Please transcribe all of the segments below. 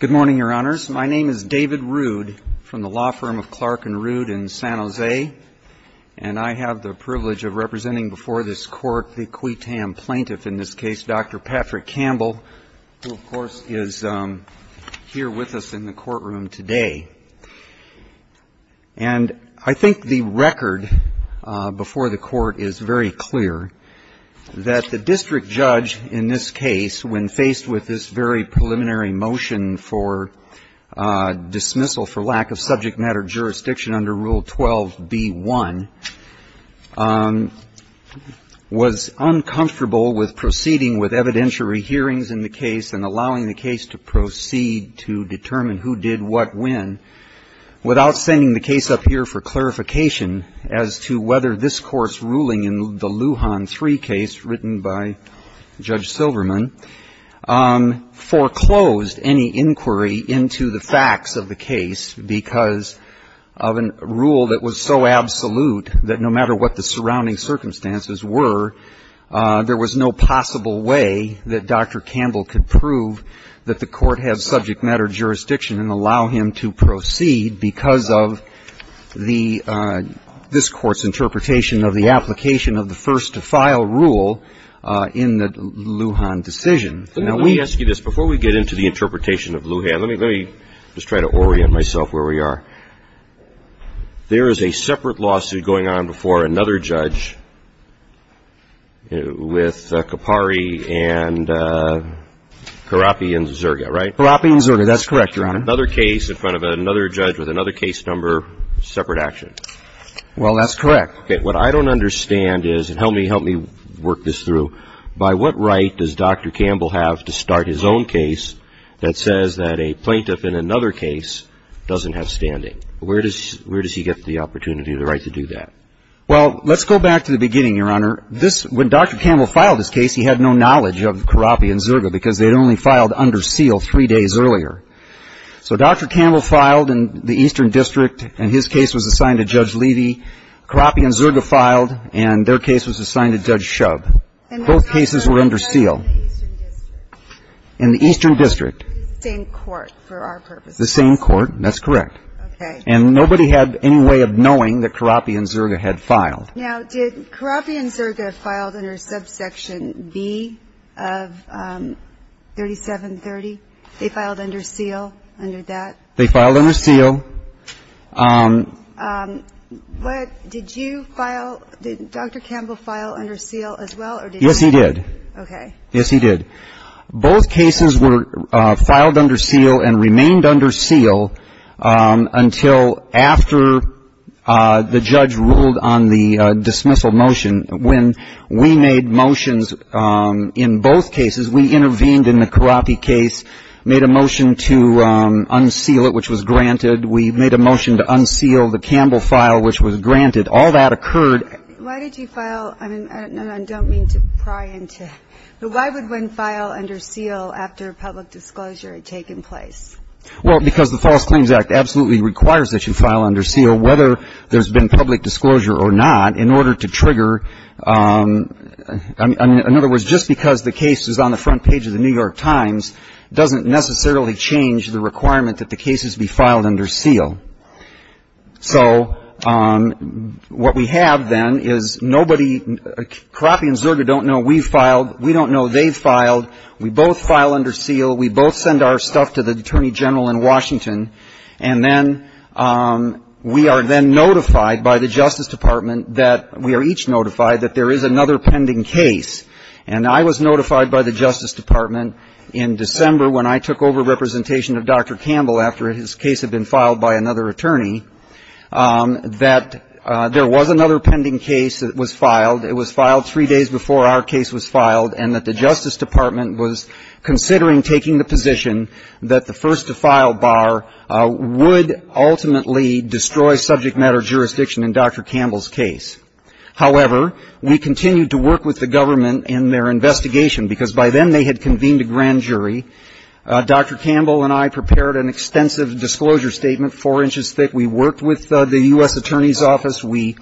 Good morning, Your Honors. My name is David Rude from the law firm of Clark and Rude in San Jose, and I have the privilege of representing before this court the QUATAM plaintiff, in this case, Dr. Patrick Campbell, who, of course, is here with us in the courtroom today. And I think the record before the court is very clear that the district judge in this case, when faced with this very preliminary matter, in a motion for dismissal for lack of subject matter jurisdiction under Rule 12b-1, was uncomfortable with proceeding with evidentiary hearings in the case and allowing the case to proceed to determine who did what when, without sending the case up here for clarification as to whether this court's ruling in the Lujan III case, written by Judge Silverman, foreclosed any inquiry into the facts of the case because of a rule that was so absolute that no matter what the surrounding circumstances were, there was no possible way that Dr. Campbell could prove that the court has subject matter jurisdiction and allow him to proceed because of the this court's interpretation of the application of the first-to-file rule in the Lujan decision. Now, let me ask you this. Before we get into the interpretation of Lujan, let me just try to orient myself where we are. There is a separate lawsuit going on before another judge with Capari and Carrapi and Zerga, right? Carrapi and Zerga. That's correct, Your Honor. Another case in front of another judge with another case number, separate action. Well, that's correct. What I don't understand is, and help me work this through, by what right does Dr. Campbell have to start his own case that says that a plaintiff in another case doesn't have standing? Where does he get the opportunity or the right to do that? Well, let's go back to the beginning, Your Honor. When Dr. Campbell filed his case, he had no knowledge of Carrapi and Zerga because they had only filed under seal three days earlier. So Dr. Campbell filed in the Eastern District, and his case was assigned to Judge Levy. Carrapi and Zerga filed, and their case was assigned to Judge Shub. Both cases were under seal. In the Eastern District. The same court, for our purposes. The same court, that's correct. Okay. And nobody had any way of knowing that Carrapi and Zerga had filed. Now, did Carrapi and Zerga file under subsection B of 3730? They filed under seal under that? They filed under seal. But did you file, did Dr. Campbell file under seal as well? Yes, he did. Okay. Yes, he did. Both cases were filed under seal and remained under seal until after the judge ruled on the dismissal motion. When we made motions in both cases, we intervened in the Carrapi case, made a motion to unseal it, which was granted. We made a motion to unseal the Campbell file, which was granted. All that occurred. Why did you file, and I don't mean to pry into, but why would one file under seal after public disclosure had taken place? Well, because the False Claims Act absolutely requires that you file under seal, whether there's been public disclosure or not, in order to trigger, in other words, just because the case is on the front page of the New York Times doesn't necessarily change the requirement that the cases be filed under seal. So what we have then is nobody, Carrapi and Zerga don't know we filed, we don't know they filed. We both file under seal. We both send our stuff to the Attorney General in Washington. And then we are then notified by the Justice Department that we are each notified that there is another pending case. And I was notified by the Justice Department in December when I took over representation of Dr. Campbell and another attorney, that there was another pending case that was filed. It was filed three days before our case was filed, and that the Justice Department was considering taking the position that the first-to-file bar would ultimately destroy subject matter jurisdiction in Dr. Campbell's case. However, we continued to work with the government in their investigation, because by then they had convened a grand jury. Dr. Campbell and I prepared an extensive disclosure statement, four inches thick. We worked with the U.S. Attorney's Office. We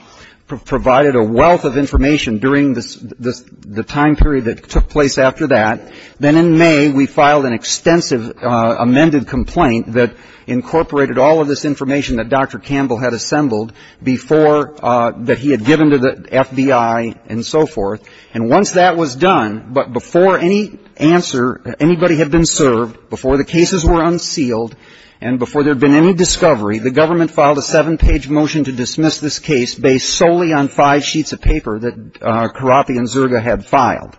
provided a wealth of information during the time period that took place after that. Then in May, we filed an extensive amended complaint that incorporated all of this information that Dr. Campbell had assembled before that he had given to the FBI and so forth. And once that was done, but before any answer, anybody had been served, before the cases were unsealed, and before there had been any discovery, the government filed a seven-page motion to dismiss this case based solely on five sheets of paper that Carothi and Zerga had filed.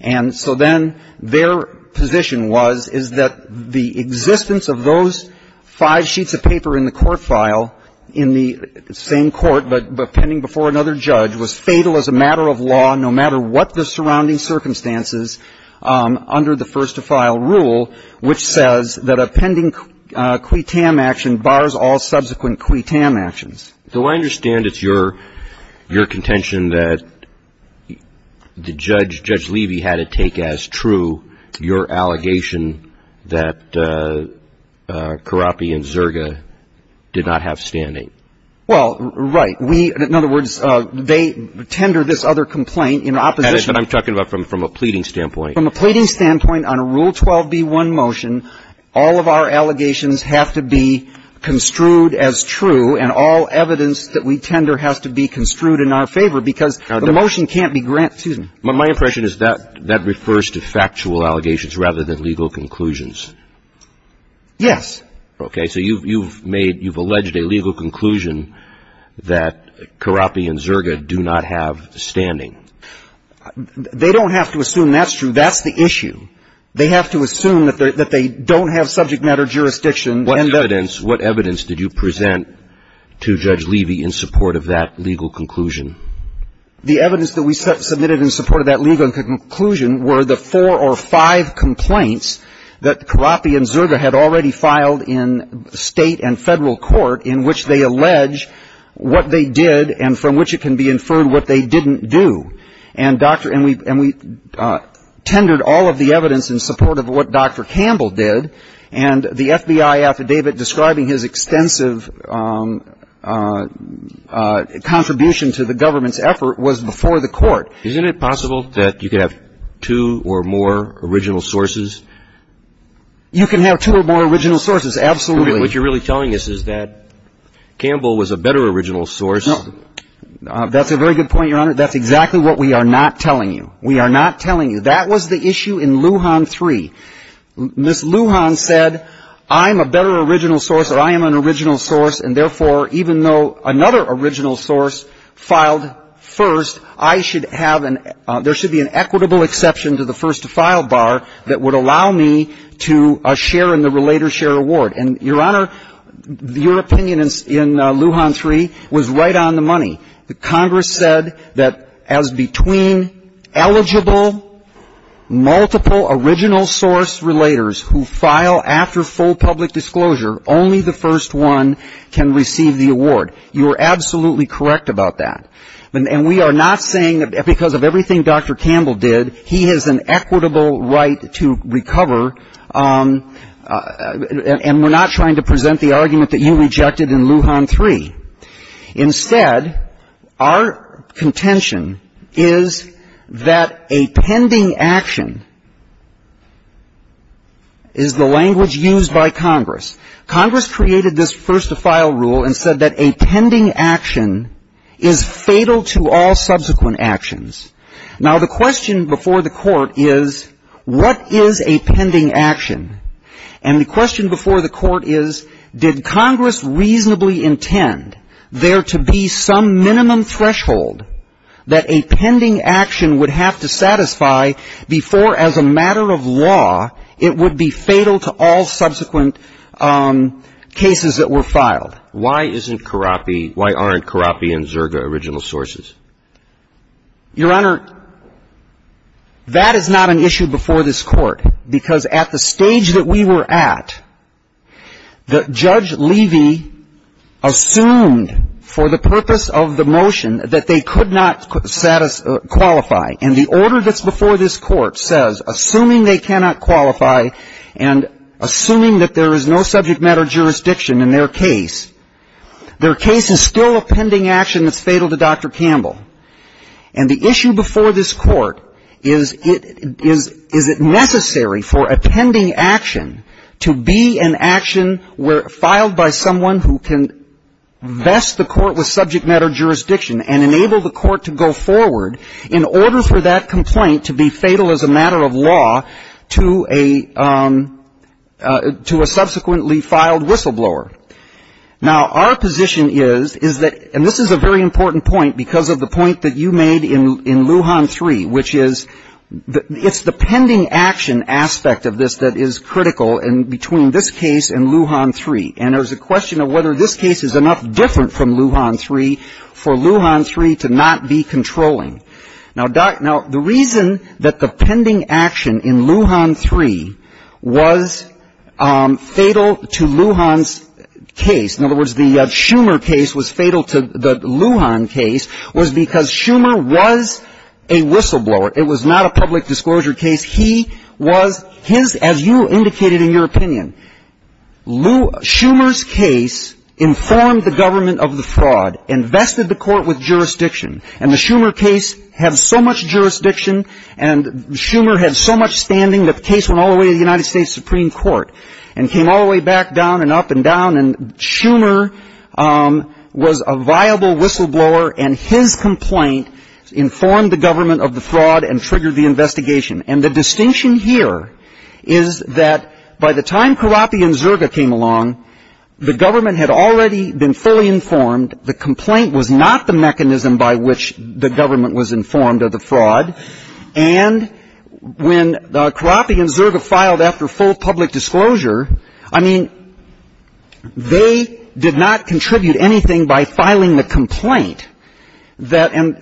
And so then their position was, is that the existence of those five sheets of paper in the court file in the same court, but pending before another judge, was fatal as a matter of law, no matter what the surrounding circumstances, under the first-to-file rule, which says that a pending quitam action bars all subsequent quitam actions. So I understand it's your contention that Judge Levy had it take as true your allegation that Carothi and Zerga did not have standing. Well, right. We, in other words, they tender this other complaint in opposition. That is what I'm talking about from a pleading standpoint. From a pleading standpoint on a Rule 12b-1 motion, all of our allegations have to be construed as true, and all evidence that we tender has to be construed in our favor, because the motion can't be granted. My impression is that that refers to factual allegations rather than legal conclusions. Yes. Okay. So you've made, you've alleged a legal conclusion that Carothi and Zerga do not have standing. They don't have to assume that's true. That's the issue. They have to assume that they don't have subject matter jurisdiction. What evidence, what evidence did you present to Judge Levy in support of that legal conclusion? The evidence that we submitted in support of that legal conclusion were the four or five complaints that Carothi and Zerga had already filed in state and federal court in which they allege what they did and from which it can be inferred what they didn't do. And we tendered all of the evidence in support of what Dr. Campbell did, and the FBI affidavit describing his extensive contribution to the government's effort was before the court. Isn't it possible that you could have two or more original sources? You can have two or more original sources, absolutely. What you're really telling us is that Campbell was a better original source. That's a very good point, Your Honor. That's exactly what we are not telling you. We are not telling you. That was the issue in Lujan III. Ms. Lujan said, I'm a better original source, or I am an original source, and therefore even though another original source filed first, I should have an – that would allow me to share in the relator share award. And, Your Honor, your opinion in Lujan III was right on the money. Congress said that as between eligible, multiple original source relators who file after full public disclosure, only the first one can receive the award. You are absolutely correct about that. And we are not saying that because of everything Dr. Campbell did, he has an equitable right to recover, and we're not trying to present the argument that you rejected in Lujan III. Instead, our contention is that a pending action is the language used by Congress. Congress created this first to file rule and said that a pending action is fatal to all subsequent actions. Now, the question before the court is, what is a pending action? And the question before the court is, did Congress reasonably intend there to be some minimum threshold that a pending action would have to satisfy before, as a matter of law, it would be fatal to all subsequent cases that were filed? Why isn't Carapi – why aren't Carapi and Zerga original sources? Your Honor, that is not an issue before this court because at the stage that we were at, Judge Levy assumed for the purpose of the motion that they could not qualify. And the order that's before this court says, assuming they cannot qualify and assuming that there is no subject matter jurisdiction in their case, their case is still a pending action that's fatal to Dr. Campbell. And the issue before this court is, is it necessary for a pending action to be an action filed by someone who can vest the court with subject matter jurisdiction and enable the court to go forward in order for that complaint to be fatal as a matter of law to a subsequently filed whistleblower? Now, our position is, is that – and this is a very important point because of the point that you made in Lujan 3, which is it's the pending action aspect of this that is critical between this case and Lujan 3. And there's a question of whether this case is enough different from Lujan 3 for Lujan 3 to not be controlling. Now, the reason that the pending action in Lujan 3 was fatal to Lujan's case, in other words, the Schumer case was fatal to the Lujan case, was because Schumer was a whistleblower. It was not a public disclosure case. He was – his – as you indicated in your opinion, Schumer's case informed the government of the fraud and vested the court with jurisdiction. And the Schumer case had so much jurisdiction and Schumer had so much standing that the case went all the way to the United States Supreme Court and came all the way back down and up and down. And Schumer was a viable whistleblower, and his complaint informed the government of the fraud and triggered the investigation. And the distinction here is that by the time Carapi and Zerga came along, the government had already been fully informed. The complaint was not the mechanism by which the government was informed of the fraud. And when Carapi and Zerga filed after full public disclosure, I mean, they did not contribute anything by filing the complaint And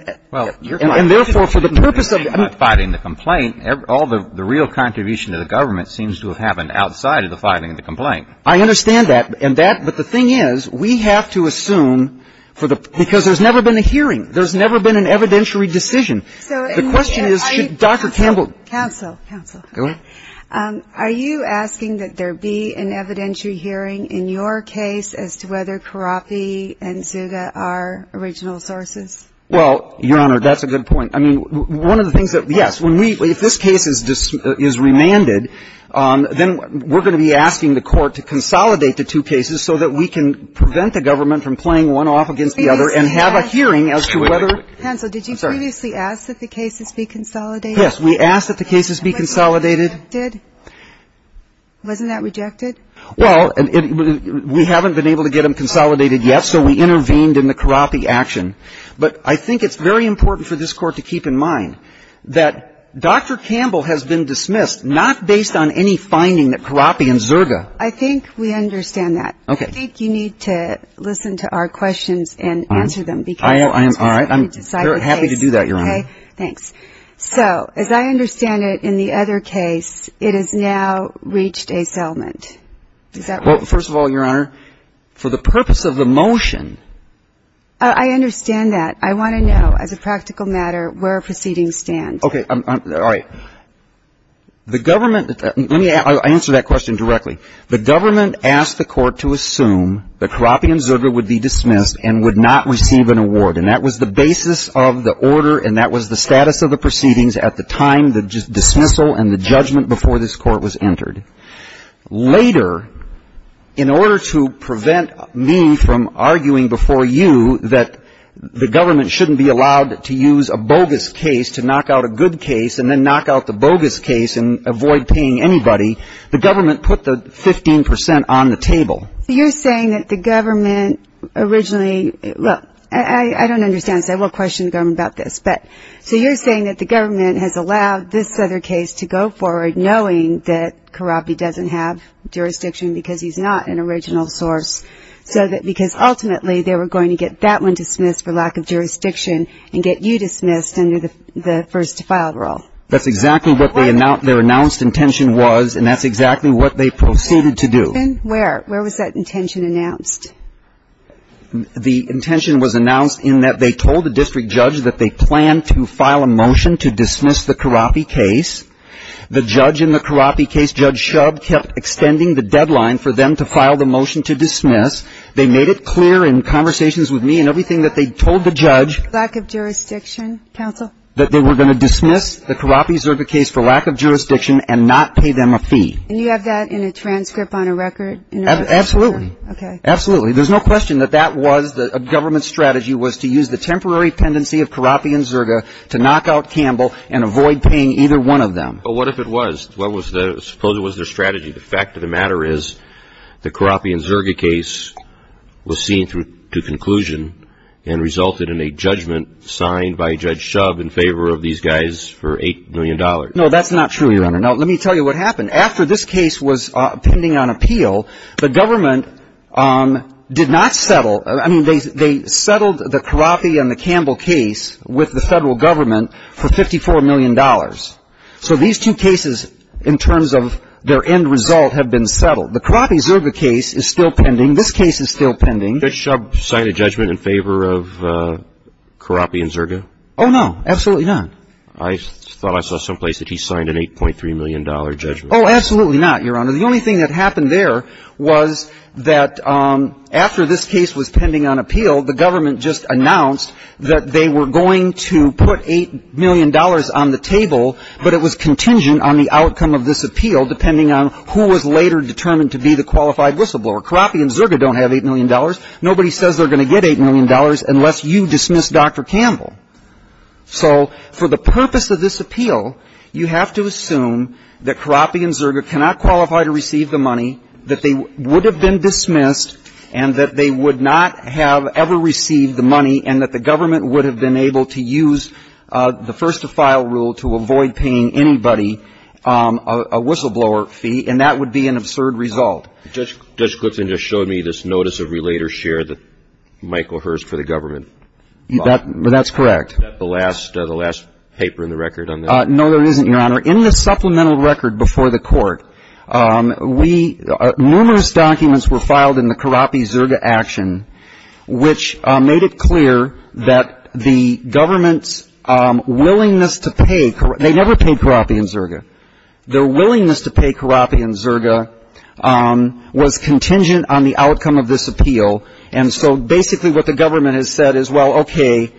therefore, for the purpose of the complaint, all the real contribution to the government seems to have happened outside of the filing of the complaint. I understand that. And that – but the thing is, we have to assume for the – because there's never been a hearing. There's never been an evidentiary decision. The question is should Dr. Campbell – Counsel. Counsel. Go ahead. Are you asking that there be an evidentiary hearing in your case as to whether Carapi and Zerga are original sources? Well, Your Honor, that's a good point. I mean, one of the things that – yes. If this case is remanded, then we're going to be asking the court to consolidate the two cases so that we can prevent the government from playing one off against the other and have a hearing as to whether – Hansel, did you previously ask that the cases be consolidated? Yes, we asked that the cases be consolidated. Wasn't that rejected? Well, we haven't been able to get them consolidated yet, so we intervened in the Carapi action. But I think it's very important for this court to keep in mind that Dr. Campbell has been dismissed, not based on any finding that Carapi and Zerga – I think we understand that. Okay. I think you need to listen to our questions and answer them because – I am – all right. I'm happy to do that, Your Honor. Okay. Thanks. So, as I understand it, in the other case, it has now reached a settlement. Is that right? Well, first of all, Your Honor, for the purpose of the motion – I understand that. I want to know, as a practical matter, where proceedings stand. Okay. All right. The government – let me answer that question directly. The government asked the court to assume that Carapi and Zerga would be dismissed and would not receive an award. And that was the basis of the order and that was the status of the proceedings at the time, the dismissal and the judgment before this court was entered. Later, in order to prevent me from arguing before you that the government shouldn't be allowed to use a bogus case to knock out a good case and then knock out the bogus case and avoid paying anybody, You're saying that the government originally – look, I don't understand this. I will question the government about this. But so you're saying that the government has allowed this other case to go forward, knowing that Carapi doesn't have jurisdiction because he's not an original source, because ultimately they were going to get that one dismissed for lack of jurisdiction and get you dismissed under the first-to-file rule. That's exactly what their announced intention was, and that's exactly what they proceeded to do. Where? Where was that intention announced? The intention was announced in that they told the district judge that they planned to file a motion to dismiss the Carapi case. The judge in the Carapi case, Judge Shub, kept extending the deadline for them to file the motion to dismiss. They made it clear in conversations with me and everything that they told the judge Lack of jurisdiction, counsel. That they were going to dismiss the Carapi-Zerga case for lack of jurisdiction and not pay them a fee. And you have that in a transcript on a record? Absolutely. Okay. Absolutely. There's no question that that was the government's strategy, was to use the temporary pendency of Carapi and Zerga to knock out Campbell and avoid paying either one of them. But what if it was? Suppose it was their strategy. The fact of the matter is the Carapi and Zerga case was seen to conclusion and resulted in a judgment signed by Judge Shub in favor of these guys for $8 million. No, that's not true, Your Honor. Now, let me tell you what happened. After this case was pending on appeal, the government did not settle. I mean, they settled the Carapi and the Campbell case with the federal government for $54 million. So these two cases, in terms of their end result, have been settled. The Carapi-Zerga case is still pending. This case is still pending. Judge Shub signed a judgment in favor of Carapi and Zerga? Oh, no. Absolutely not. I thought I saw someplace that he signed an $8.3 million judgment. Oh, absolutely not, Your Honor. The only thing that happened there was that after this case was pending on appeal, the government just announced that they were going to put $8 million on the table, but it was contingent on the outcome of this appeal, depending on who was later determined to be the qualified whistleblower. Carapi and Zerga don't have $8 million. Nobody says they're going to get $8 million unless you dismiss Dr. Campbell. So for the purpose of this appeal, you have to assume that Carapi and Zerga cannot qualify to receive the money, that they would have been dismissed, and that they would not have ever received the money, and that the government would have been able to use the first-to-file rule to avoid paying anybody a whistleblower fee, and that would be an absurd result. Judge Clifton just showed me this notice of relater share that Michael Hurst for the government bought. That's correct. Is that the last paper in the record on this? No, there isn't, Your Honor. In the supplemental record before the Court, we – numerous documents were filed in the Carapi-Zerga action, which made it clear that the government's willingness to pay – they never paid Carapi and Zerga. Their willingness to pay Carapi and Zerga was contingent on the outcome of this Well, okay.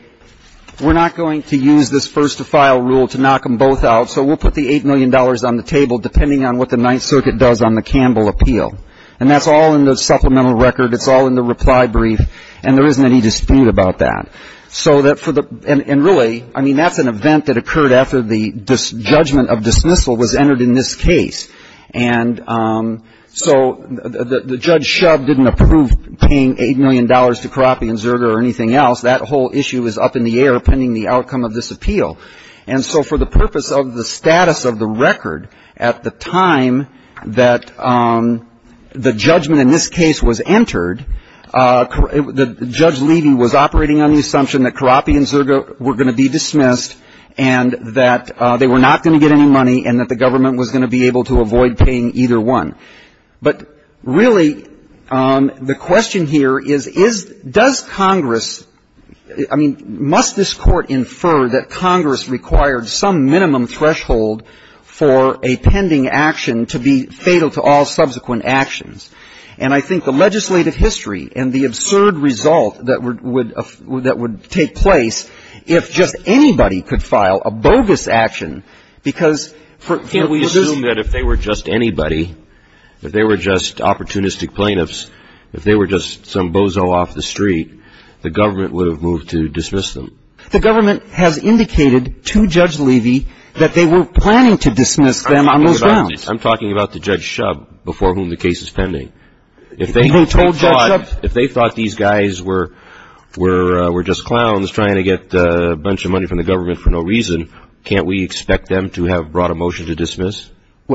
We're not going to use this first-to-file rule to knock them both out, so we'll put the $8 million on the table, depending on what the Ninth Circuit does on the Campbell appeal. And that's all in the supplemental record. It's all in the reply brief, and there isn't any dispute about that. So that for the – and really, I mean, that's an event that occurred after the judgment of dismissal was entered in this case. And so the judge Shubb didn't approve paying $8 million to Carapi and Zerga or anything else. That whole issue is up in the air pending the outcome of this appeal. And so for the purpose of the status of the record, at the time that the judgment in this case was entered, Judge Levy was operating on the assumption that Carapi and Zerga were going to be dismissed and that they were not going to get any money and that the government was going to be able to avoid paying either one. But really, the question here is, is – does Congress – I mean, must this Court infer that Congress required some minimum threshold for a pending action to be fatal to all subsequent actions? And I think the legislative history and the absurd result that would take place if just anybody could file a bogus action, because for – I assume that if they were just anybody, if they were just opportunistic plaintiffs, if they were just some bozo off the street, the government would have moved to dismiss them. The government has indicated to Judge Levy that they were planning to dismiss them on those grounds. I'm talking about the Judge Shubb, before whom the case is pending. If they thought these guys were just clowns trying to get a bunch of money from the government for no reason, can't we expect them to have brought a motion to dismiss?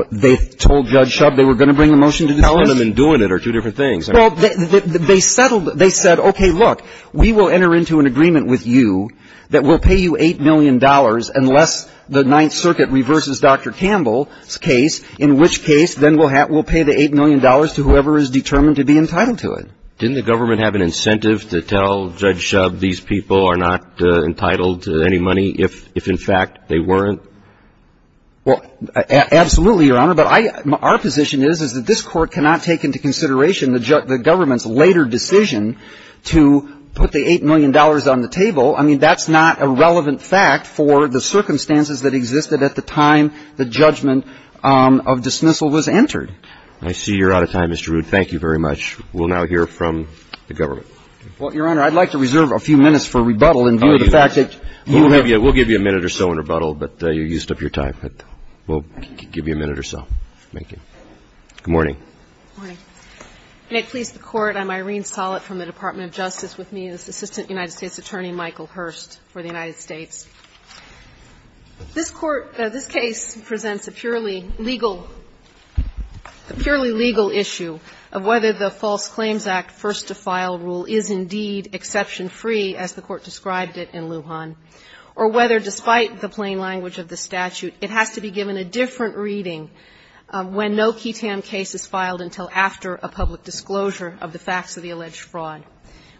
They told Judge Shubb they were going to bring a motion to dismiss? Telling them and doing it are two different things. Well, they settled – they said, okay, look, we will enter into an agreement with you that we'll pay you $8 million unless the Ninth Circuit reverses Dr. Campbell's case, in which case then we'll pay the $8 million to whoever is determined to be entitled to it. Didn't the government have an incentive to tell Judge Shubb these people are not entitled to any money if in fact they weren't? Well, absolutely, Your Honor. But our position is that this Court cannot take into consideration the government's later decision to put the $8 million on the table. I mean, that's not a relevant fact for the circumstances that existed at the time the judgment of dismissal was entered. I see you're out of time, Mr. Rood. Thank you very much. We'll now hear from the government. Well, Your Honor, I'd like to reserve a few minutes for rebuttal in view of the fact that you have to go. We'll give you a minute or so in rebuttal, but you used up your time. We'll give you a minute or so. Thank you. Good morning. Good morning. May it please the Court. I'm Irene Sollett from the Department of Justice. With me is Assistant United States Attorney Michael Hurst for the United States. This Court – this case presents a purely legal – a purely legal issue of whether the False Claims Act first-to-file rule is indeed exception-free, as the Court described it in Lujan, or whether, despite the plain language of the statute, it has to be given a different reading when no ketam case is filed until after a public disclosure of the facts of the alleged fraud.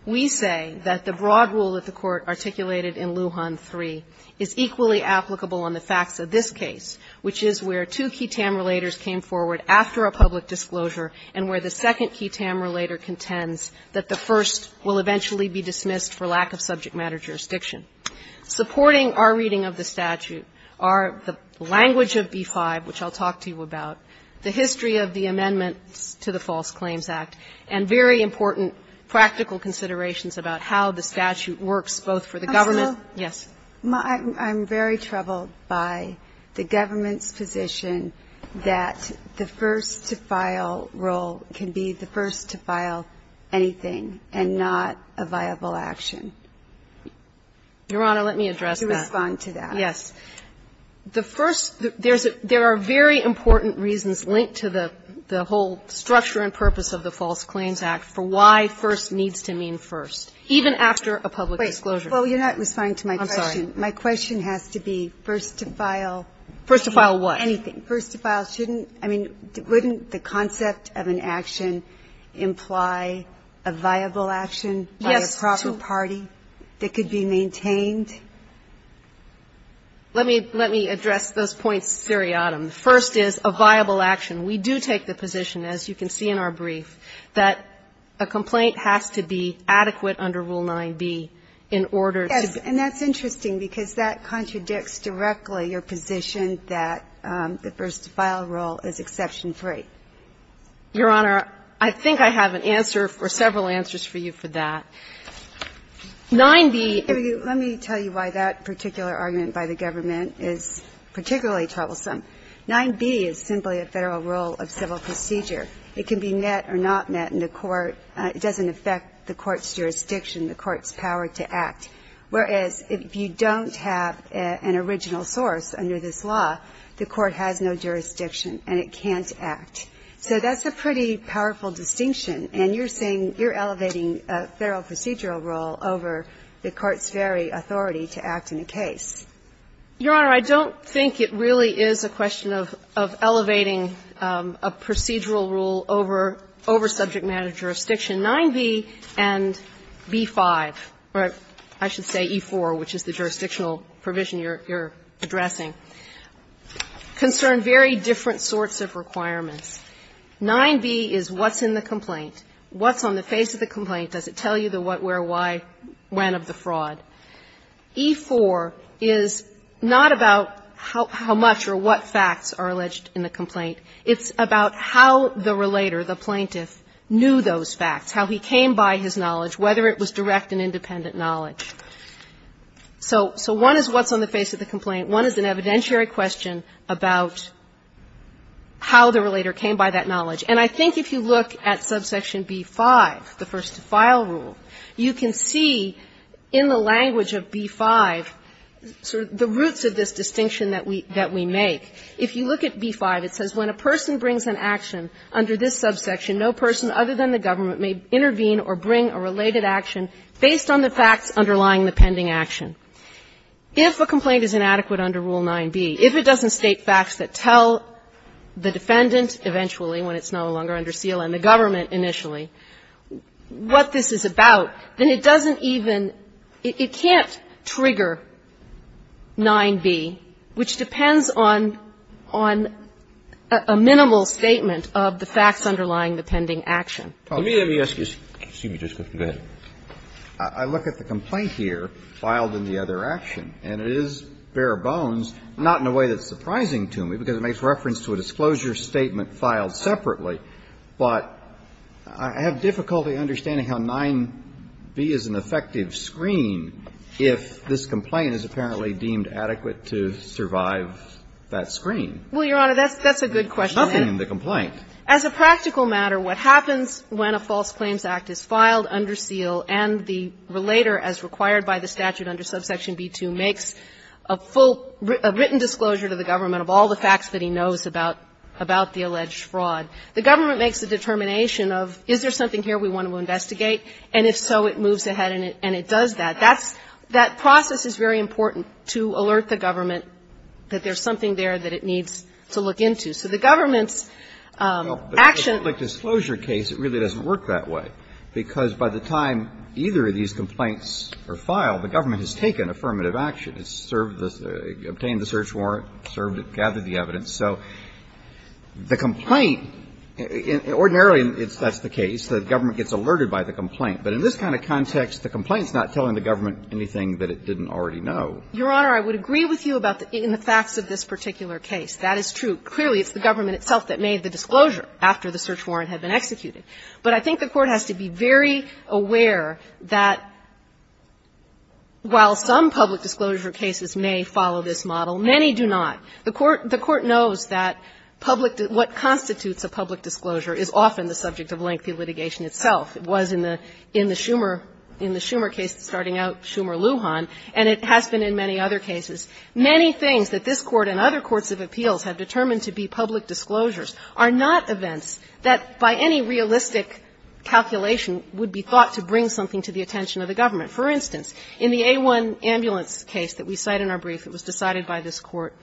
We say that the broad rule that the Court articulated in Lujan III is equally applicable on the facts of this case, which is where two ketam relators came forward after a public disclosure and where the second ketam relator contends that the first will eventually be dismissed for lack of subject matter jurisdiction. Supporting our reading of the statute are the language of B-5, which I'll talk to you about, the history of the amendments to the False Claims Act, and very important practical considerations about how the statute works both for the government – yes. I'm very troubled by the government's position that the first-to-file rule can be the first-to-file anything and not a viable action. Your Honor, let me address that. To respond to that. Yes. The first – there are very important reasons linked to the whole structure and purpose of the False Claims Act for why first needs to mean first, even after a public disclosure. Well, you're not responding to my question. I'm sorry. My question has to be first-to-file. First-to-file what? Anything. First-to-file shouldn't – I mean, wouldn't the concept of an action imply a viable action by a proper party that could be maintained? Let me address those points seriatim. First is a viable action. We do take the position, as you can see in our brief, that a complaint has to be adequate under Rule 9b in order to be – Yes, and that's interesting, because that contradicts directly your position that the first-to-file rule is exception free. Your Honor, I think I have an answer or several answers for you for that. 9b – Let me tell you why that particular argument by the government is particularly troublesome. 9b is simply a Federal rule of civil procedure. It can be met or not met in the court. It doesn't affect the court's jurisdiction, the court's power to act. Whereas, if you don't have an original source under this law, the court has no jurisdiction and it can't act. So that's a pretty powerful distinction, and you're saying you're elevating a Federal procedural rule over the court's very authority to act in a case. Your Honor, I don't think it really is a question of elevating a procedural rule over subject matter jurisdiction. 9b and b-5, or I should say e-4, which is the jurisdictional provision you're addressing, concern very different sorts of requirements. 9b is what's in the complaint, what's on the face of the complaint, does it tell you the what, where, why, when of the fraud. E-4 is not about how much or what facts are alleged in the complaint. It's about how the relator, the plaintiff, knew those facts, how he came by his knowledge, whether it was direct and independent knowledge. So one is what's on the face of the complaint. One is an evidentiary question about how the relator came by that knowledge. And I think if you look at subsection b-5, the first-to-file rule, you can see in the language of b-5 sort of the roots of this distinction that we make. If you look at b-5, it says, When a person brings an action under this subsection, no person other than the government may intervene or bring a related action based on the facts underlying the pending action. If a complaint is inadequate under Rule 9b, if it doesn't state facts that tell the defendant eventually, when it's no longer under seal, and the government initially, what this is about, then it doesn't even – it can't trigger 9b, which depends on – on a minimal statement of the facts underlying the pending action. Kennedy, let me ask you a – excuse me just a second. Go ahead. I look at the complaint here filed in the other action, and it is bare bones, not in a way that's surprising to me, because it makes reference to a disclosure statement filed separately, but I have difficulty understanding how 9b is an effective screen if this complaint is apparently deemed adequate to survive that screen. Well, Your Honor, that's a good question. There's nothing in the complaint. As a practical matter, what happens when a false claims act is filed under seal and the relator, as required by the statute under subsection b-2, makes a full – a written disclosure to the government of all the facts that he knows about the alleged fraud. The government makes a determination of, is there something here we want to investigate, and if so, it moves ahead and it does that. That's – that process is very important to alert the government that there's something there that it needs to look into. So the government's action – Well, but in a public disclosure case, it really doesn't work that way, because by the time either of these complaints are filed, the government has taken affirmative action. It's served the – obtained the search warrant, served it, gathered the evidence. So the complaint – ordinarily, that's the case. The government gets alerted by the complaint. But in this kind of context, the complaint's not telling the government anything that it didn't already know. Your Honor, I would agree with you about the – in the facts of this particular case. That is true. Clearly, it's the government itself that made the disclosure after the search warrant had been executed. But I think the Court has to be very aware that while some public disclosure cases may follow this model, many do not. The Court – the Court knows that public – what constitutes a public disclosure is often the subject of lengthy litigation itself. It was in the Schumer – in the Schumer case starting out, Schumer-Lujan, and it has been in many other cases. Many things that this Court and other courts of appeals have determined to be public disclosures are not events that, by any realistic calculation, would be thought to bring something to the attention of the government. For instance, in the A-1 ambulance case that we cite in our brief, it was decided by this Court.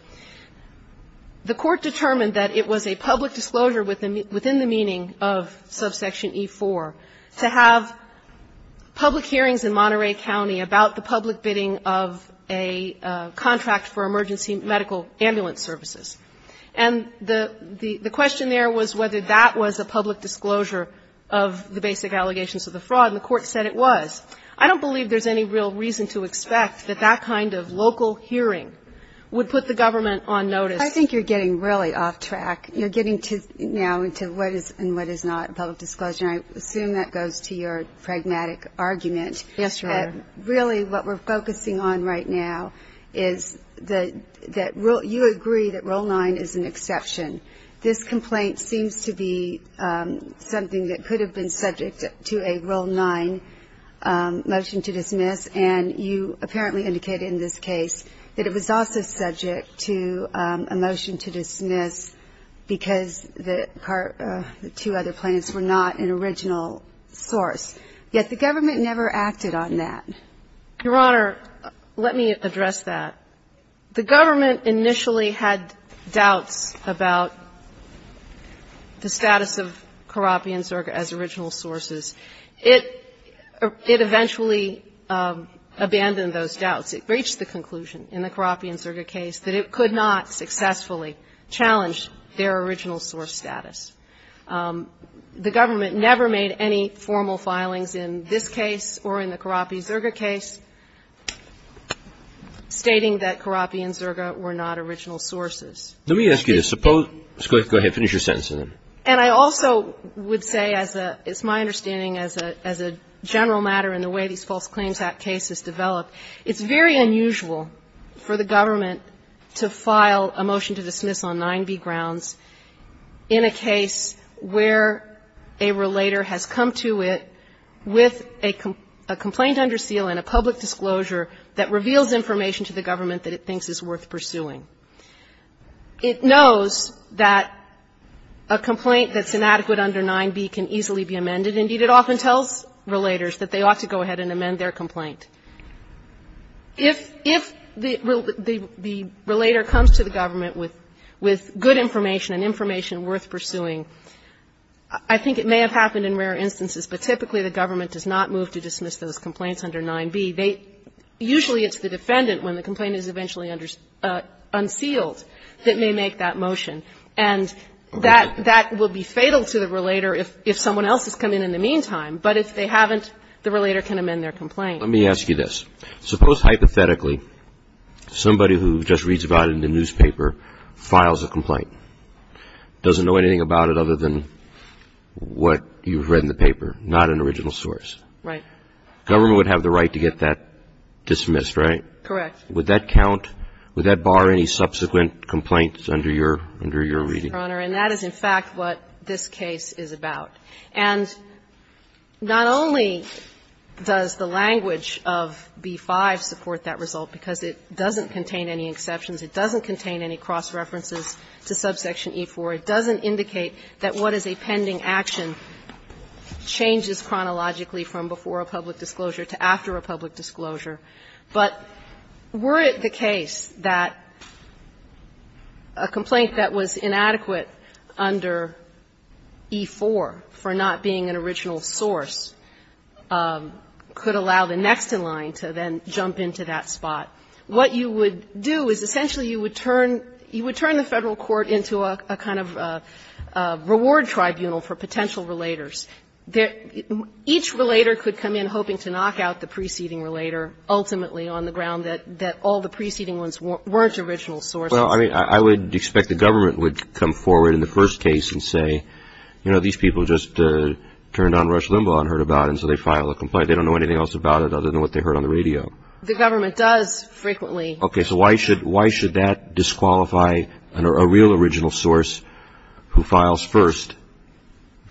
The Court determined that it was a public disclosure within the meaning of subsection E-4 to have public hearings in Monterey County about the public bidding of a contract for emergency medical ambulance services. And the question there was whether that was a public disclosure of the basic allegations of the fraud, and the Court said it was. I don't believe there's any real reason to expect that that kind of local hearing would put the government on notice. I think you're getting really off track. You're getting now into what is and what is not a public disclosure, and I assume that goes to your pragmatic argument. Yes, Your Honor. Really what we're focusing on right now is that you agree that Rule 9 is an exception. This complaint seems to be something that could have been subject to a Rule 9 motion to dismiss, and you apparently indicated in this case that it was also subject to a motion to dismiss because the two other plans were not an original source. Yet the government never acted on that. Your Honor, let me address that. The government initially had doubts about the status of Carabbi and Zerga as original sources. It eventually abandoned those doubts. It reached the conclusion in the Carabbi and Zerga case that it could not successfully challenge their original source status. The government never made any formal filings in this case or in the Carabbi-Zerga case stating that Carabbi and Zerga were not original sources. Let me ask you this. Suppose go ahead, finish your sentence. And I also would say as a – it's my understanding as a general matter in the way these False Claims Act cases develop, it's very unusual for the government to file a motion to dismiss on 9b grounds in a case where a relator has come to it with a complaint under seal and a public disclosure that reveals information to the government that it thinks is worth pursuing. It knows that a complaint that's inadequate under 9b can easily be amended. Indeed, it often tells relators that they ought to go ahead and amend their complaint. If the relator comes to the government with good information and information worth pursuing, I think it may have happened in rare instances, but typically the government does not move to dismiss those complaints under 9b. They – usually it's the defendant when the complaint is eventually unsealed that may make that motion. And that will be fatal to the relator if someone else has come in in the meantime. But if they haven't, the relator can amend their complaint. Let me ask you this. Suppose hypothetically somebody who just reads about it in the newspaper files a complaint, doesn't know anything about it other than what you've read in the paper, not an original source. Right. Government would have the right to get that dismissed, right? Correct. Would that count? Would that bar any subsequent complaints under your – under your reading? Your Honor, and that is in fact what this case is about. And not only does the language of B-5 support that result, because it doesn't contain any exceptions, it doesn't contain any cross-references to subsection E-4, it doesn't indicate that what is a pending action changes chronologically from before a public disclosure to after a public disclosure. But were it the case that a complaint that was inadequate under E-4 for not being an original source could allow the next in line to then jump into that spot, what you would do is essentially you would turn the Federal court into a kind of reward tribunal for potential relators. Each relator could come in hoping to knock out the preceding relator ultimately on the ground that all the preceding ones weren't original sources. Well, I mean, I would expect the government would come forward in the first case and say, you know, these people just turned on Rush Limbaugh and heard about it, and so they file a complaint. They don't know anything else about it other than what they heard on the radio. The government does frequently. Okay. So why should – why should that disqualify a real original source who files first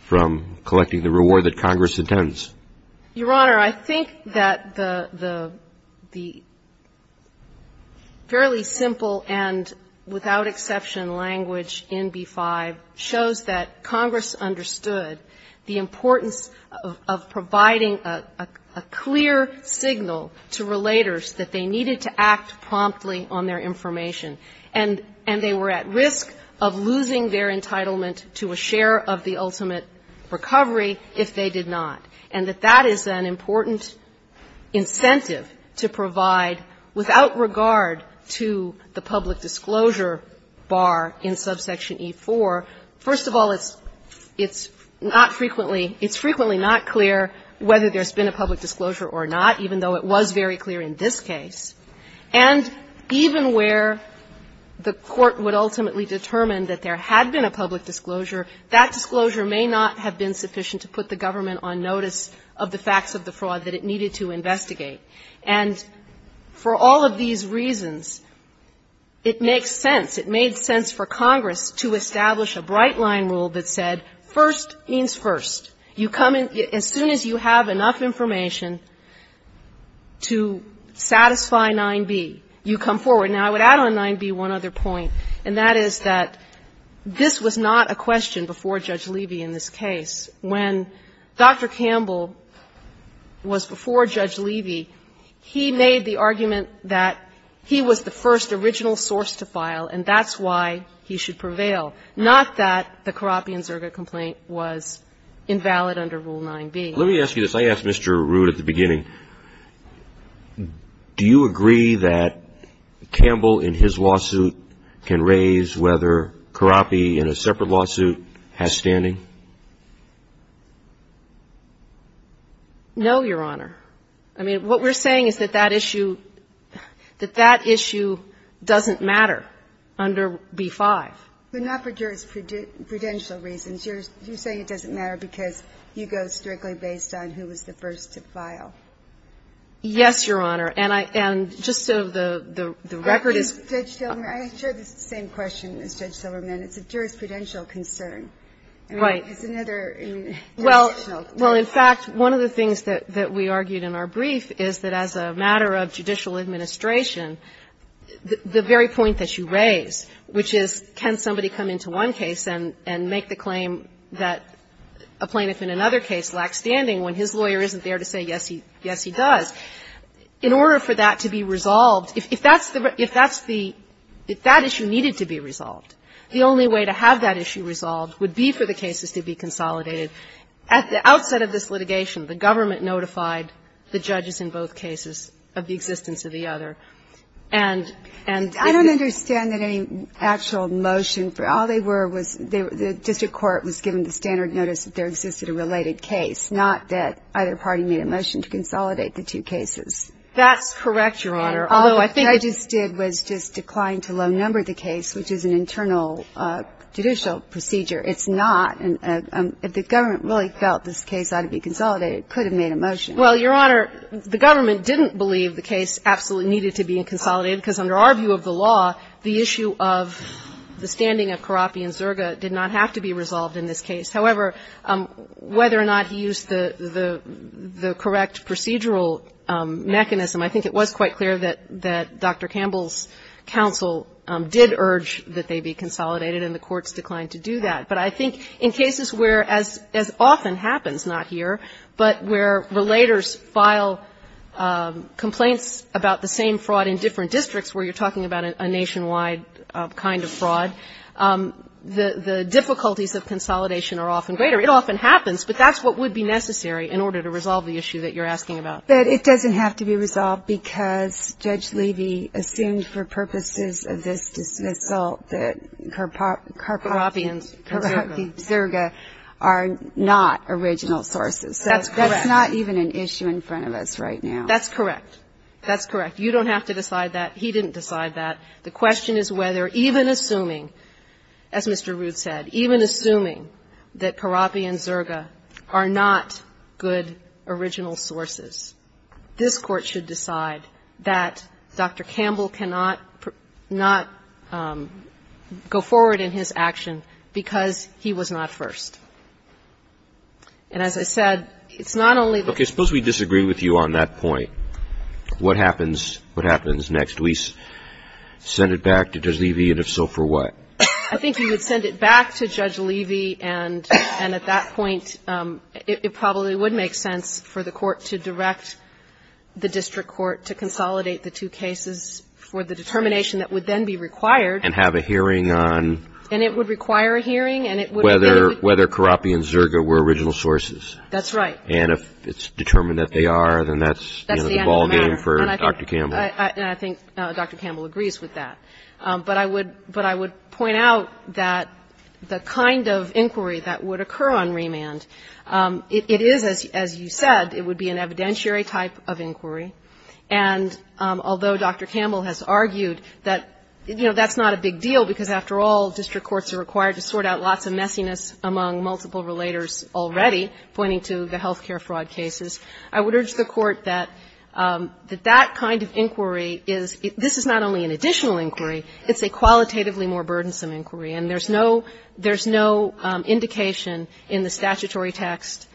from collecting the reward that Congress intends? Your Honor, I think that the fairly simple and without exception language in B-5 shows that Congress understood the importance of providing a clear signal to relators that they needed to act promptly on their information, and they were at risk of losing their entitlement to a share of the ultimate recovery if they did not, and that that is an important incentive to provide without regard to the public disclosure bar in subsection E-4. First of all, it's not frequently – it's frequently not clear whether there's been a public disclosure or not, even though it was very clear in this case. And even where the Court would ultimately determine that there had been a public disclosure, that disclosure may not have been sufficient to put the government on notice of the facts of the fraud that it needed to investigate. And for all of these reasons, it makes sense, it made sense for Congress to establish a bright-line rule that said first means first. You come in – as soon as you have enough information to satisfy 9b, you come forward. Now, I would add on 9b one other point, and that is that this was not a question before Judge Levy in this case. When Dr. Campbell was before Judge Levy, he made the argument that he was the first original source to file, and that's why he should prevail, not that the Kharabi and Zerga complaint was invalid under Rule 9b. Let me ask you this. I asked Mr. Root at the beginning, do you agree that Campbell, in his lawsuit, can raise whether Kharabi, in a separate lawsuit, has standing? No, Your Honor. I mean, what we're saying is that that issue – that that issue doesn't matter under B-5. But not for jurisprudential reasons. You're saying it doesn't matter because you go strictly based on who was the first to file. Yes, Your Honor. And I – and just so the record is clear. I share the same question as Judge Silverman. It's a jurisprudential concern. Right. It's another jurisdictional concern. Well, in fact, one of the things that we argued in our brief is that as a matter of judicial administration, the very point that you raise, which is can somebody come into one case and make the claim that a plaintiff in another case lacks standing when his lawyer isn't there to say, yes, he does, in order for that to be resolved, if that's the – if that's the – if that issue needed to be resolved, the only way to have that issue resolved would be for the cases to be consolidated. At the outset of this litigation, the government notified the judges in both cases of the existence of the other. And the other one was that there was a standard notice that there existed a related case, not that either party made a motion to consolidate the two cases. That's correct, Your Honor, although I think it's the case that's been consolidated. All the judges did was just decline to low number the case, which is an internal judicial procedure. It's not. If the government really felt this case ought to be consolidated, it could have made a motion. Well, Your Honor, the government didn't believe the case absolutely needed to be consolidated, because under our view of the law, the issue of the standing of Carapi and Zerga did not have to be resolved in this case. However, whether or not he used the correct procedural mechanism, I think it was quite clear that Dr. Campbell's counsel did urge that they be consolidated, and the courts declined to do that. But I think in cases where, as often happens, not here, but where relators file complaints about the same fraud in different districts where you're talking about a nationwide kind of fraud, the difficulties of consolidation are often greater. It often happens, but that's what would be necessary in order to resolve the issue that you're asking about. But it doesn't have to be resolved because Judge Levy assumed for purposes of this result that Carapi and Zerga are not original sources. That's correct. So that's not even an issue in front of us right now. That's correct. That's correct. You don't have to decide that. He didn't decide that. The question is whether, even assuming, as Mr. Ruth said, even assuming that Carapi and Zerga are not good original sources, this Court should decide that Dr. Campbell cannot not go forward in his action because he was not first. And as I said, it's not only the ---- Okay. Suppose we disagree with you on that point. What happens? What happens next? We send it back to Judge Levy, and if so, for what? I think you would send it back to Judge Levy, and at that point, it probably would make sense for the Court to direct the district court to consolidate the two cases for the determination that would then be required. And have a hearing on ---- And it would require a hearing, and it would ---- Whether Carapi and Zerga were original sources. That's right. And if it's determined that they are, then that's the ballgame for Dr. Campbell. And I think Dr. Campbell agrees with that. But I would point out that the kind of inquiry that would occur on remand, it is, as you said, it would be an evidentiary type of inquiry. And although Dr. Campbell has argued that, you know, that's not a big deal, because after all, district courts are required to sort out lots of messiness among multiple relators already, pointing to the health care fraud cases, I would urge the Court that that kind of inquiry is ---- this is not only an additional inquiry, it's a qualitatively more burdensome inquiry. And there's no indication in the statutory text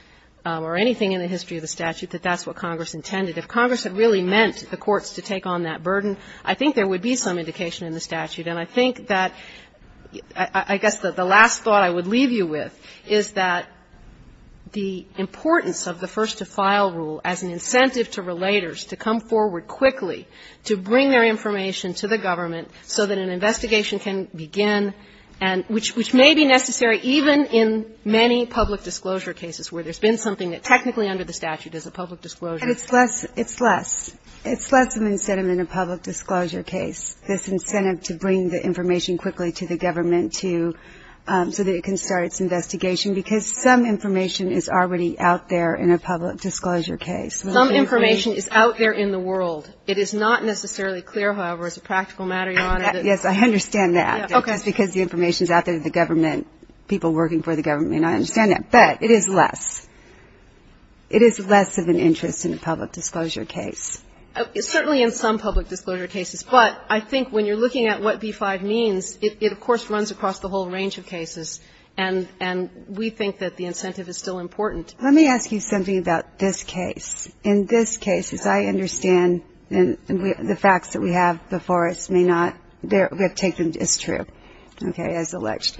or anything in the history of the statute that that's what Congress intended. If Congress had really meant the courts to take on that burden, I think there would be some indication in the statute. And I think that ---- I guess the last thought I would leave you with is that the importance of the first-to-file rule as an incentive to relators to come forward quickly to bring their information to the government so that an investigation can begin, and which may be necessary even in many public disclosure cases where there's been something that technically under the statute is a public disclosure. And it's less of an incentive in a public disclosure case, this incentive to bring the information quickly to the government to ---- so that it can start its investigation, because some information is already out there in a public disclosure case. Some information is out there in the world. It is not necessarily clear, however, as a practical matter, Your Honor, that ---- Yes, I understand that. Okay. Just because the information is out there to the government, people working for the government may not understand that. But it is less. It is less of an interest in a public disclosure case. Certainly in some public disclosure cases. But I think when you're looking at what B-5 means, it of course runs across the whole range of cases. And we think that the incentive is still important. Let me ask you something about this case. In this case, as I understand, and the facts that we have before us may not ---- we have taken as true, okay, as alleged.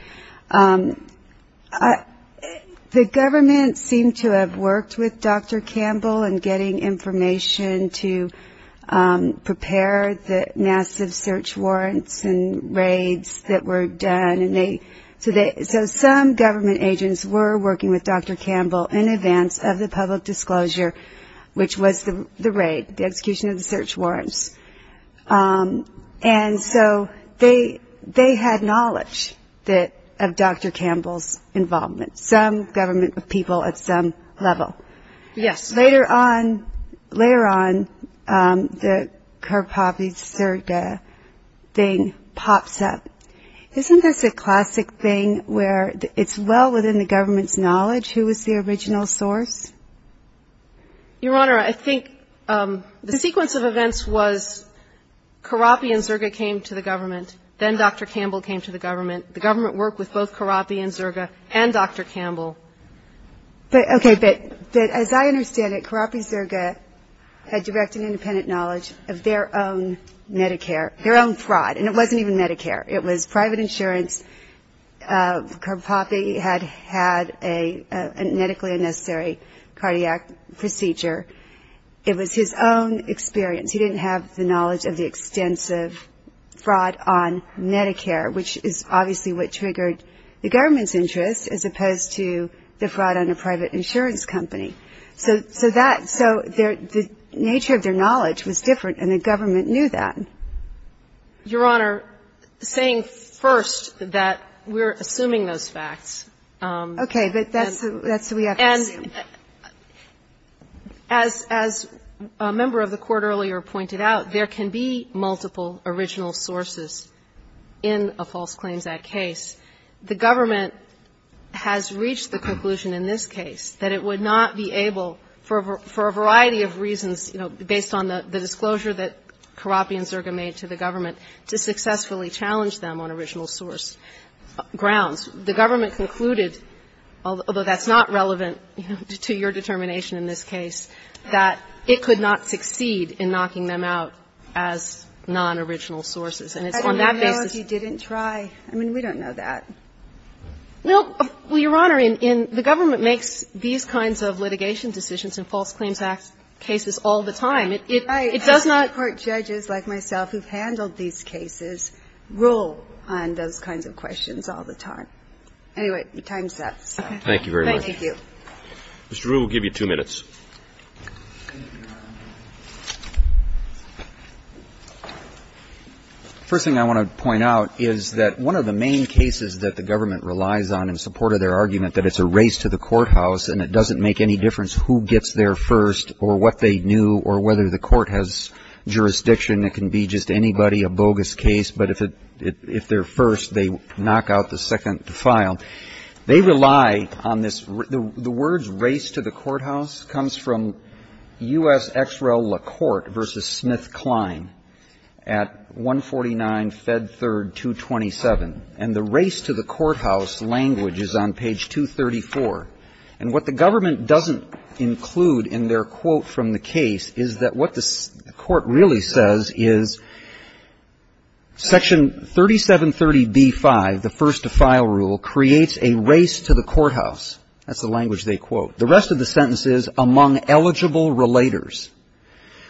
The government seemed to have worked with Dr. Campbell in getting information to prepare the massive search warrants and raids that were done. And they ---- so some government agents were working with Dr. Campbell in advance of the public disclosure, which was the raid, the execution of the search warrants. And so they had knowledge that ---- of Dr. Campbell's involvement, some government people at some level. Yes. Later on, later on, the Karpovich-Serga thing pops up. Isn't this a classic thing where it's well within the government's knowledge who is the original source? Your Honor, I think the sequence of events was Karpovich-Serga came to the government, then Dr. Campbell came to the government. The government worked with both Karpovich-Serga and Dr. Campbell. Okay. But as I understand it, Karpovich-Serga had direct and independent knowledge of their own Medicare, their own fraud, and it wasn't even Medicare. It was private insurance. Karpovich had had a medically unnecessary cardiac procedure. It was his own experience. He didn't have the knowledge of the extensive fraud on Medicare, which is obviously what triggered the government's interest, as opposed to the fraud on a private insurance company. So that ---- so the nature of their knowledge was different, and the government knew that. Your Honor, saying first that we're assuming those facts ---- Okay. But that's who we have to assume. And as a member of the Court earlier pointed out, there can be multiple original sources in a False Claims Act case. The government has reached the conclusion in this case that it would not be able, for a variety of reasons, you know, based on the disclosure that Karpovich-Serga made to the government, to successfully challenge them on original source grounds. The government concluded, although that's not relevant to your determination in this case, that it could not succeed in knocking them out as nonoriginal sources, and it's on that basis ---- I don't know if he didn't try. I mean, we don't know that. Well, Your Honor, the government makes these kinds of litigation decisions in False Claims Act cases all the time. It does not ---- No court judges like myself who've handled these cases rule on those kinds of questions all the time. Anyway, your time's up. Thank you very much. Thank you. Mr. Ruehl, we'll give you two minutes. First thing I want to point out is that one of the main cases that the government relies on in support of their argument, that it's a race to the courthouse and it doesn't make any difference who gets there first or what they knew or whether the court has jurisdiction. It can be just anybody, a bogus case, but if they're first, they knock out the second to file. They rely on this ---- the words race to the courthouse comes from U.S. X.R.L. LaCourte v. Smith-Kline at 149 Fed 3rd 227. And the race to the courthouse language is on page 234. And what the government doesn't include in their quote from the case is that what the court really says is Section 3730B-5, the first to file rule, creates a race to the courthouse. That's the language they quote. The rest of the sentence is among eligible relators.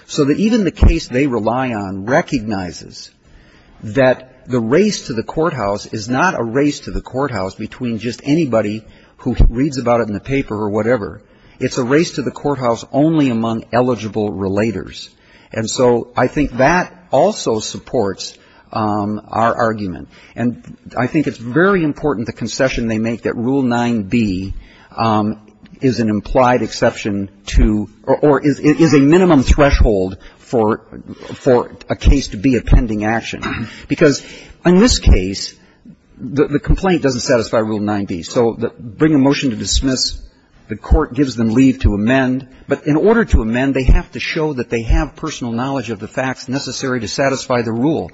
So that even the case they rely on recognizes that the race to the courthouse is not a race to the courthouse between just anybody who reads about it in the paper or whatever. It's a race to the courthouse only among eligible relators. And so I think that also supports our argument. And I think it's very important, the concession they make, that Rule 9b is an implied exception to or is a minimum threshold for a case to be a pending action. Because in this case, the complaint doesn't satisfy Rule 9b. So bring a motion to dismiss, the court gives them leave to amend. But in order to amend, they have to show that they have personal knowledge of the facts necessary to satisfy the rule.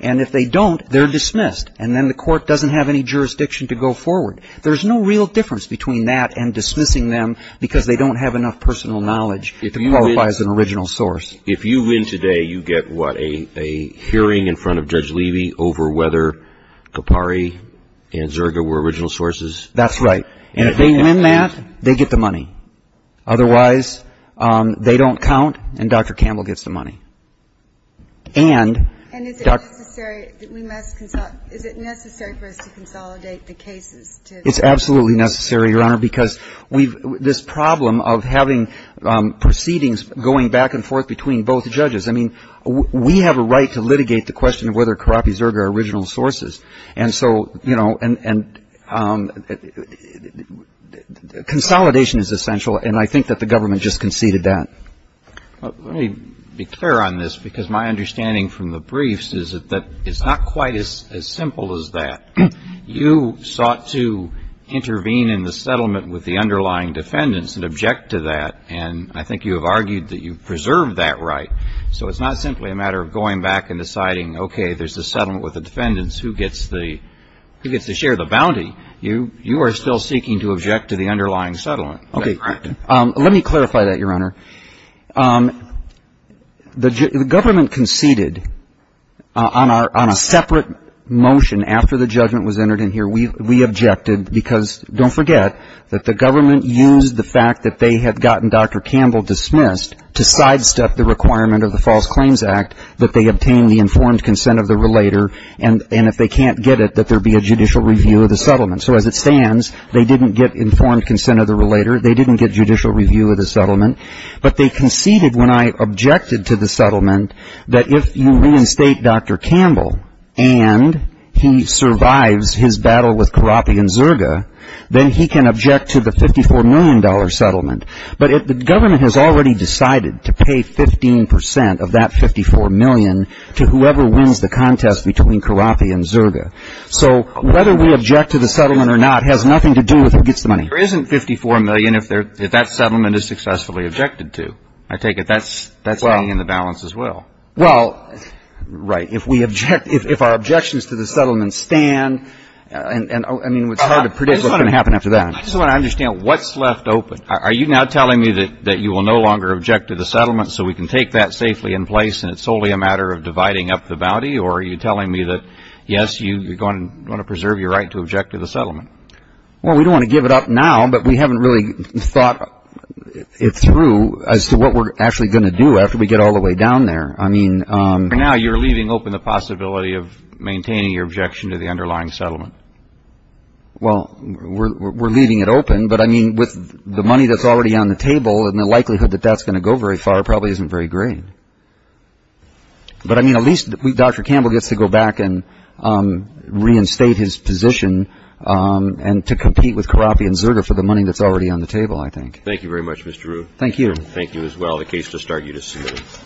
And if they don't, they're dismissed. And then the court doesn't have any jurisdiction to go forward. There's no real difference between that and dismissing them because they don't have enough personal knowledge to qualify as an original source. If you win today, you get what? A hearing in front of Judge Levy over whether Capari and Zerga were original sources? That's right. And if they win that, they get the money. Otherwise, they don't count and Dr. Campbell gets the money. And... And is it necessary for us to consolidate the cases to... It's absolutely necessary, Your Honor, because this problem of having proceedings going back and forth between both judges, I mean, we have a right to litigate the question of whether Capari and Zerga are original sources. And so, you know, and consolidation is essential. And I think that the government just conceded that. Let me be clear on this because my understanding from the briefs is that it's not quite as simple as that. You sought to intervene in the settlement with the underlying defendants and object to that. And I think you have argued that you preserved that right. So it's not simply a matter of going back and deciding, okay, there's a settlement with the defendants. Who gets the share of the bounty? You are still seeking to object to the underlying settlement. Is that correct? Okay. Let me clarify that, Your Honor. The government conceded on a separate motion after the judgment was entered in here. We objected because, don't forget, that the government used the fact that they had gotten Dr. Campbell dismissed to sidestep the requirement of the False Claims Act that they obtain the informed consent of the relator. And if they can't get it, that there be a judicial review of the settlement. So as it stands, they didn't get informed consent of the relator. They didn't get judicial review of the settlement. But they conceded when I objected to the settlement that if you reinstate Dr. Campbell and he and Zerga, then he can object to the $54 million settlement. But the government has already decided to pay 15% of that $54 million to whoever wins the contest between Carrapi and Zerga. So whether we object to the settlement or not has nothing to do with who gets the money. There isn't $54 million if that settlement is successfully objected to. I take it that's being in the balance as well. Well, right. If our objections to the settlement stand, I mean, it's hard to predict what's going to happen after that. I just want to understand what's left open. Are you now telling me that you will no longer object to the settlement so we can take that safely in place and it's solely a matter of dividing up the bounty? Or are you telling me that, yes, you're going to preserve your right to object to the settlement? Well, we don't want to give it up now, but we haven't really thought it through as to what we're actually going to do after we get all the way down there. I mean... For now, you're leaving open the possibility of maintaining your objection to the underlying settlement. Well, we're leaving it open. But, I mean, with the money that's already on the table and the likelihood that that's going to go very far probably isn't very great. But, I mean, at least Dr. Campbell gets to go back and reinstate his position and to compete with Carrapi and Zerga for the money that's already on the table, I think. Thank you very much, Mr. Rueh. Thank you. Thank you as well. The case will start you to see.